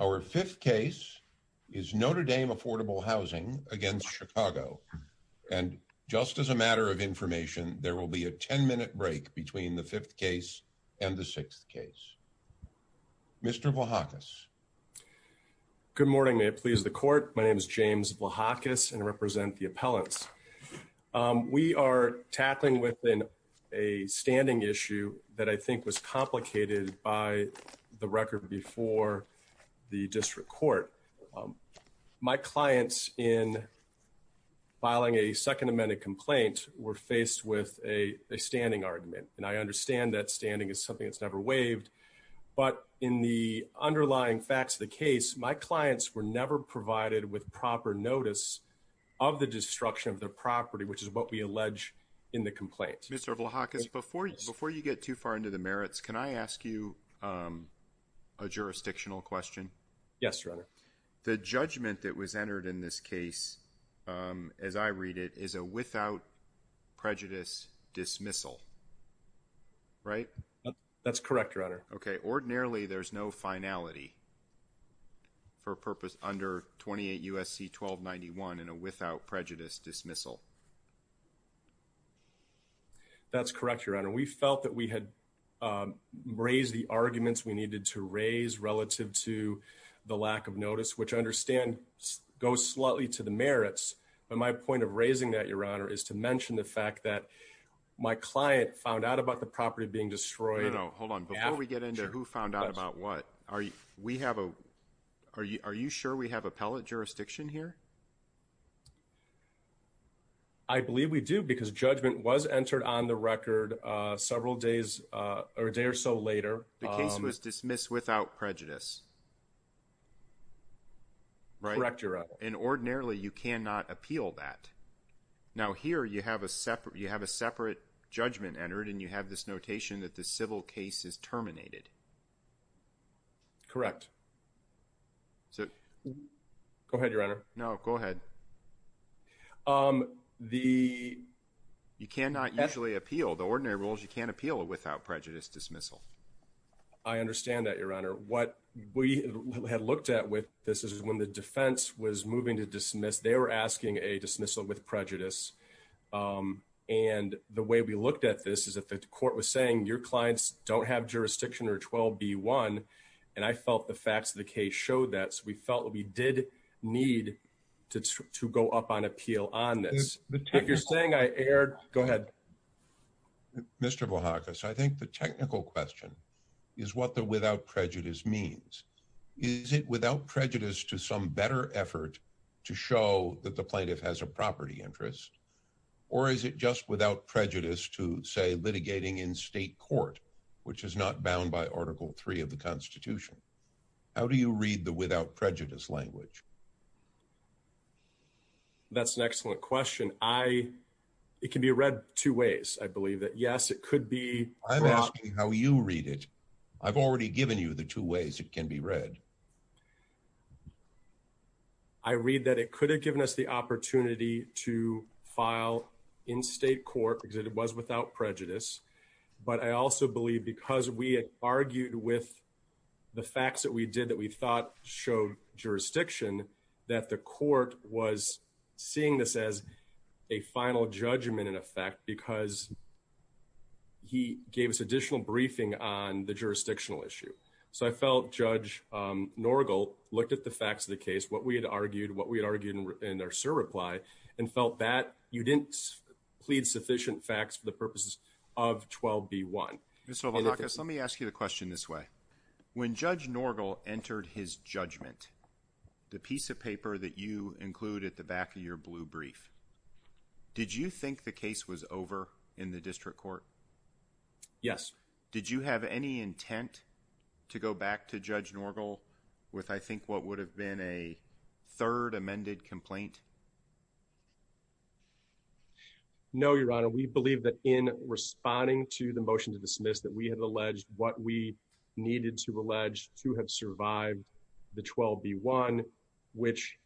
Our fifth case is Notre Dame Affordable Housing against Chicago and just as a matter of information there will be a 10-minute break between the fifth case and the sixth case. Mr. Vlahakis. Good morning may it please the court my name is James Vlahakis and represent the appellants. We are tackling within a complicated by the record before the district court. My clients in filing a second amended complaint were faced with a standing argument and I understand that standing is something that's never waived but in the underlying facts of the case my clients were never provided with proper notice of the destruction of the property which is what we allege in the complaint. Mr. Vlahakis before you get too far into the merits can I ask you a jurisdictional question? Yes your honor. The judgment that was entered in this case as I read it is a without prejudice dismissal right? That's correct your honor. Okay ordinarily there's no finality for purpose under 28 U.S.C. 1291 and a without prejudice dismissal. That's correct your honor. We felt that we had raised the arguments we needed to raise relative to the lack of notice which I understand goes slightly to the merits but my point of raising that your honor is to mention the fact that my client found out about the property being destroyed. Hold on before we get into who found out about what are you we have a are you are you sure we have appellant here? I believe we do because judgment was entered on the record several days or a day or so later. The case was dismissed without prejudice. Correct your honor. And ordinarily you cannot appeal that. Now here you have a separate you have a separate judgment entered and you have this notation that the civil case is terminated. Correct. So go ahead your honor. No go ahead. The you cannot usually appeal the ordinary rules you can't appeal without prejudice dismissal. I understand that your honor. What we had looked at with this is when the defense was moving to dismiss they were asking a dismissal with prejudice and the way we jurisdiction or 12 b one. And I felt the facts of the case showed that we felt we did need to to go up on appeal on this. If you're saying I aired go ahead. Mr. Bahamas. I think the technical question is what the without prejudice means. Is it without prejudice to some better effort to show that the plaintiff has a property interest or is it just without prejudice to say litigating in a court which is not bound by article three of the constitution. How do you read the without prejudice language? That's an excellent question. I it can be read two ways. I believe that yes it could be. I'm asking how you read it. I've already given you the two ways it can be read. I read that it could have given us the opportunity to file in state court because it was without prejudice. But I also believe because we argued with the facts that we did that we thought showed jurisdiction that the court was seeing this as a final judgment in effect because he gave us additional briefing on the jurisdictional issue. So I felt Judge Norgal looked at the facts of the case, what we had argued, what we argued in our sir reply and felt that you plead sufficient facts for the purposes of 12b1. So let me ask you a question this way. When Judge Norgal entered his judgment, the piece of paper that you include at the back of your blue brief, did you think the case was over in the district court? Yes. Did you have any intent to go back to Judge Norgal with I think what would have been a third amended complaint? No, Your Honor. We believe that in responding to the motion to dismiss that we have alleged what we needed to allege to have survived the 12b1 which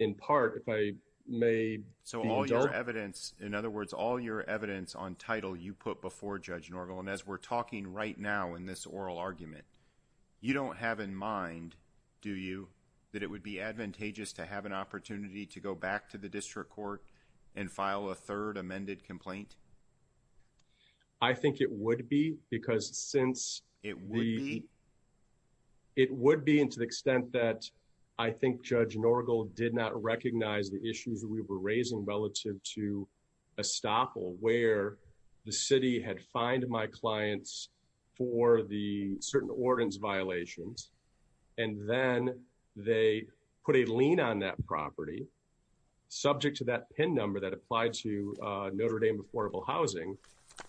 in part if I may. So all your evidence, in other words, all your evidence on title you put before Judge Norgal. And as we're talking right now in this oral argument, you don't have in mind, do you, that it would be advantageous to have an opportunity to go back to the district court and file a third amended complaint? I think it would be because since it would be, it would be into the extent that I think Judge Norgal did not recognize the issues that we were raising relative to estoppel where the city had fined my clients for the put a lien on that property subject to that PIN number that applied to Notre Dame affordable housing.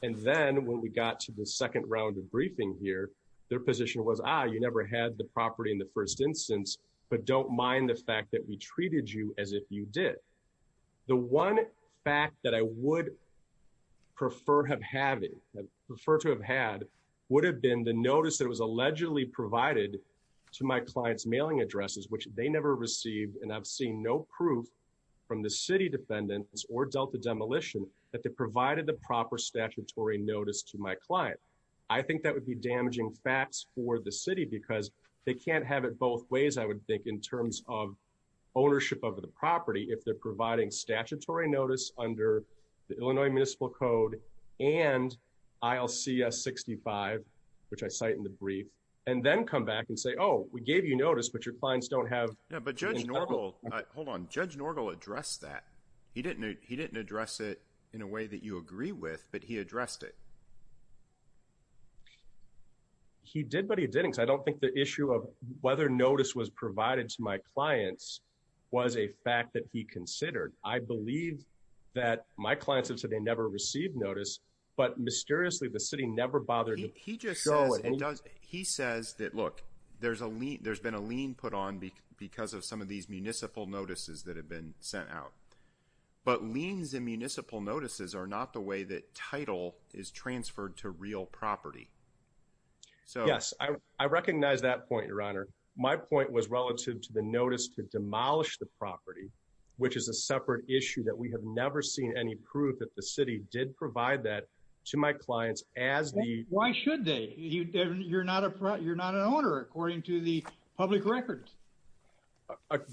And then when we got to the second round of briefing here, their position was, ah, you never had the property in the first instance but don't mind the fact that we treated you as if you did. The one fact that I would prefer have having, prefer to have had, would have been the notice that was never received. And I've seen no proof from the city defendants or Delta demolition that they provided the proper statutory notice to my client. I think that would be damaging facts for the city because they can't have it both ways, I would think, in terms of ownership of the property if they're providing statutory notice under the Illinois Municipal Code and ILCS 65, which I cite in the brief, and then come back and say, oh, we gave you notice but your clients don't have. Yeah, but Judge Norgel, hold on, Judge Norgel addressed that. He didn't, he didn't address it in a way that you agree with, but he addressed it. He did, but he didn't. I don't think the issue of whether notice was provided to my clients was a fact that he considered. I believe that my clients have said they never received notice, but mysteriously the city never bothered to show it. He just says, he says that, look, there's a lien, there's been a lien put on because of some of these municipal notices that have been sent out, but liens and municipal notices are not the way that title is transferred to real property. So, yes, I recognize that point, Your Honor. My point was relative to the notice to demolish the property, which is a separate issue that we have never seen any proof that the city did provide that to my clients as the... Why should they? You're not a, you're not an owner according to the public records.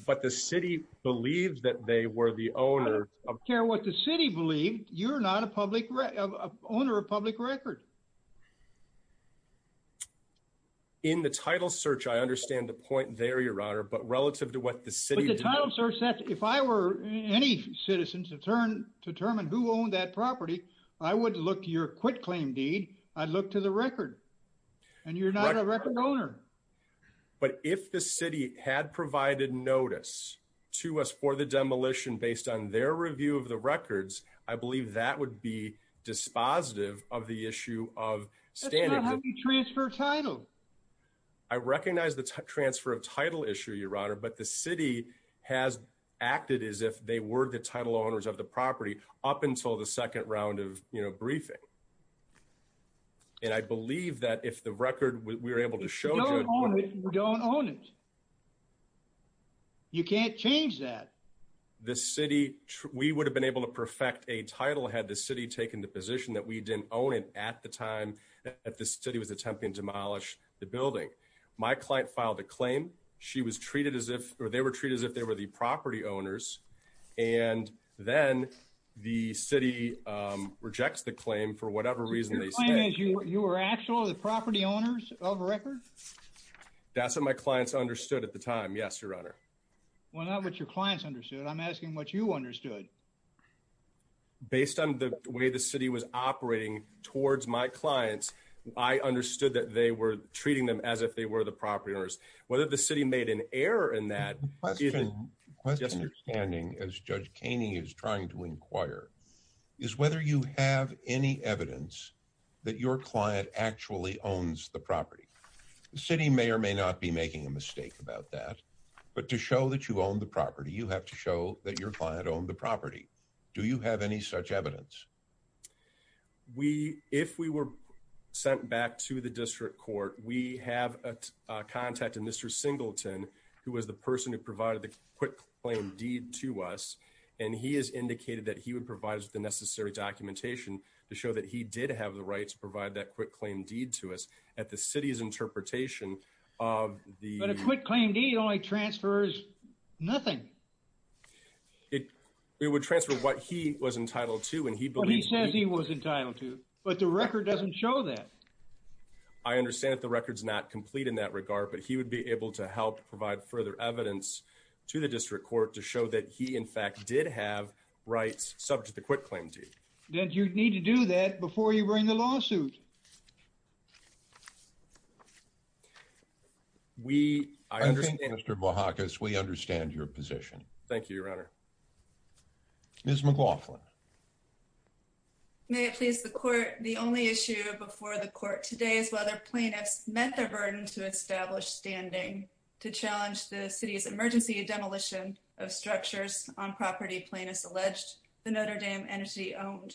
But the city believed that they were the owner... I don't care what the city believed, you're not a public, owner of public record. In the title search, I understand the point there, Your Honor, but relative to what the city... But the title search said if I were any citizen to turn, to determine who owned that property, I would look your quit claim deed, I'd look to the record, and you're not a record owner. But if the city had provided notice to us for the demolition based on their review of the records, I believe that would be dispositive of the issue of standing... That's not how you transfer title. I recognize the transfer of title issue, Your Honor, but the city has acted as if they were the title owners of the property up until the second round of, you know, briefing. And I believe that if the city... You don't own it. You can't change that. The city, we would have been able to perfect a title had the city taken the position that we didn't own it at the time that the city was attempting to demolish the building. My client filed a claim, she was treated as if, or they were treated as if they were the property owners, and then the city rejects the claim for whatever reason they say. You were actually the record? That's what my clients understood at the time, yes, Your Honor. Well, not what your clients understood. I'm asking what you understood. Based on the way the city was operating towards my clients, I understood that they were treating them as if they were the property owners. Whether the city made an error in that, even just understanding, as Judge Kaney is trying to inquire, is whether you have any evidence that your client actually owns the property. The city may or may not be making a mistake about that, but to show that you own the property, you have to show that your client owned the property. Do you have any such evidence? We, if we were sent back to the district court, we have a contact, a Mr. Singleton, who was the person who provided the quick claim deed to us, and he has evidence to show that he did have the rights to provide that quick claim deed to us at the city's interpretation of the... But a quick claim deed only transfers nothing. It would transfer what he was entitled to, and he believes... What he says he was entitled to, but the record doesn't show that. I understand that the record's not complete in that regard, but he would be able to help provide further evidence to the district court to show that he, in fact, did have rights subject to the quick claim deed. Then you'd need to do that before you bring the lawsuit. We... I understand, Mr. Bohacus. We understand your position. Thank you, Your Honor. Ms. McLaughlin. May it please the court, the only issue before the court today is whether plaintiffs met their burden to establish standing to challenge the city's emergency demolition of structures on property plaintiffs alleged the Notre Dame Energy owned.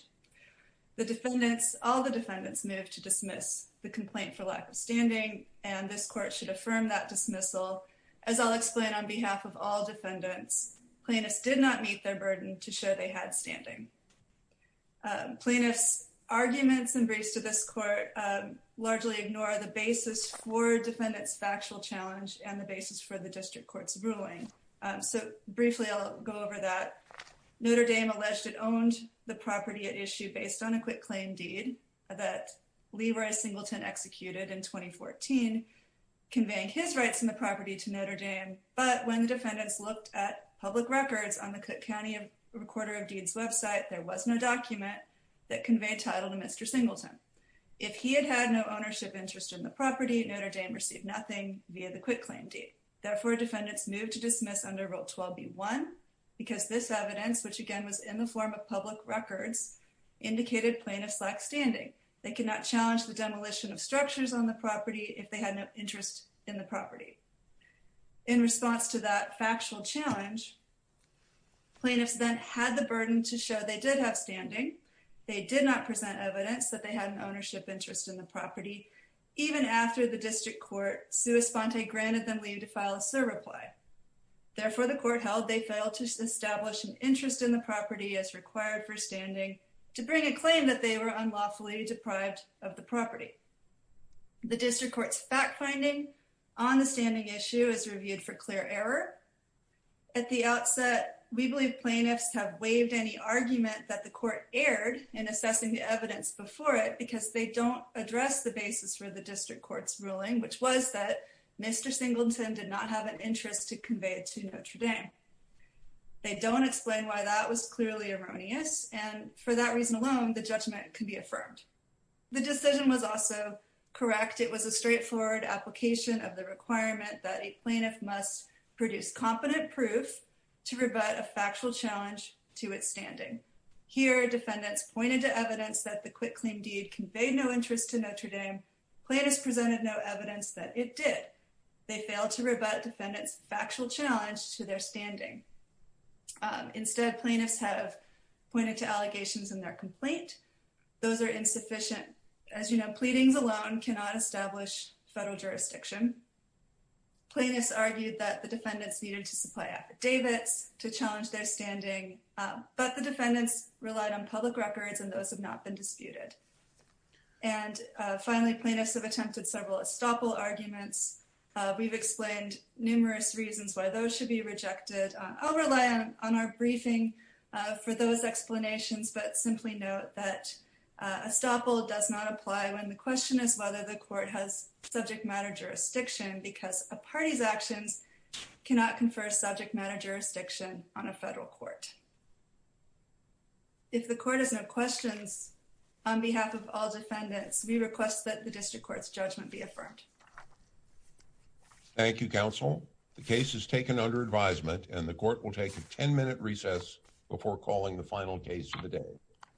The defendants, all the defendants, moved to dismiss the complaint for lack of standing, and this court should affirm that dismissal. As I'll explain on behalf of all defendants, plaintiffs did not meet their burden to show they had standing. Plaintiffs' arguments and briefs to this court largely ignore the basis for defendants' factual challenge and the Notre Dame alleged it owned the property at issue based on a quick claim deed that Leroy Singleton executed in 2014, conveying his rights in the property to Notre Dame, but when the defendants looked at public records on the Cook County Recorder of Deeds website, there was no document that conveyed title to Mr. Singleton. If he had had no ownership interest in the property, Notre Dame received nothing via the quick claim deed. Therefore, defendants moved to In response to that factual challenge, plaintiffs then had the burden to show they did have standing. They did not present evidence that they had an ownership interest in the property, even after the district court sui sponte granted them leave to file a surreply. Therefore, the court held they failed to establish an interest in the property as required for standing to bring a claim that they were unlawfully deprived of the property. The district court's fact-finding on the standing issue is reviewed for clear error. At the outset, we believe plaintiffs have waived any argument that the court erred in assessing the evidence before it because they don't address the basis for the district court's ruling, which was that Mr. Singleton did not have an interest in the property. They don't explain why that was clearly erroneous, and for that reason alone, the judgment can be affirmed. The decision was also correct. It was a straightforward application of the requirement that a plaintiff must produce competent proof to rebut a factual challenge to its standing. Here, defendants pointed to evidence that the quitclaim deed conveyed no interest to Notre Dame. Plaintiffs presented no evidence that it did. They failed to rebut defendants' factual challenge to their standing. Instead, plaintiffs have pointed to allegations in their complaint. Those are insufficient. As you know, pleadings alone cannot establish federal jurisdiction. Plaintiffs argued that the defendants needed to supply affidavits to challenge their standing, but the defendants relied on public records, and those have not been disputed. Finally, plaintiffs have attempted several estoppel arguments. We've explained numerous reasons why those should be rejected. I'll rely on our briefing for those explanations, but simply note that estoppel does not apply when the question is whether the court has subject matter jurisdiction because a party's actions cannot confer subject matter jurisdiction on a federal court. If the court has no questions, on behalf of all defendants, we request that the district court's judgment be affirmed. Thank you, counsel. The case is taken under advisement, and the court will take a 10-minute recess before calling the final case of the day.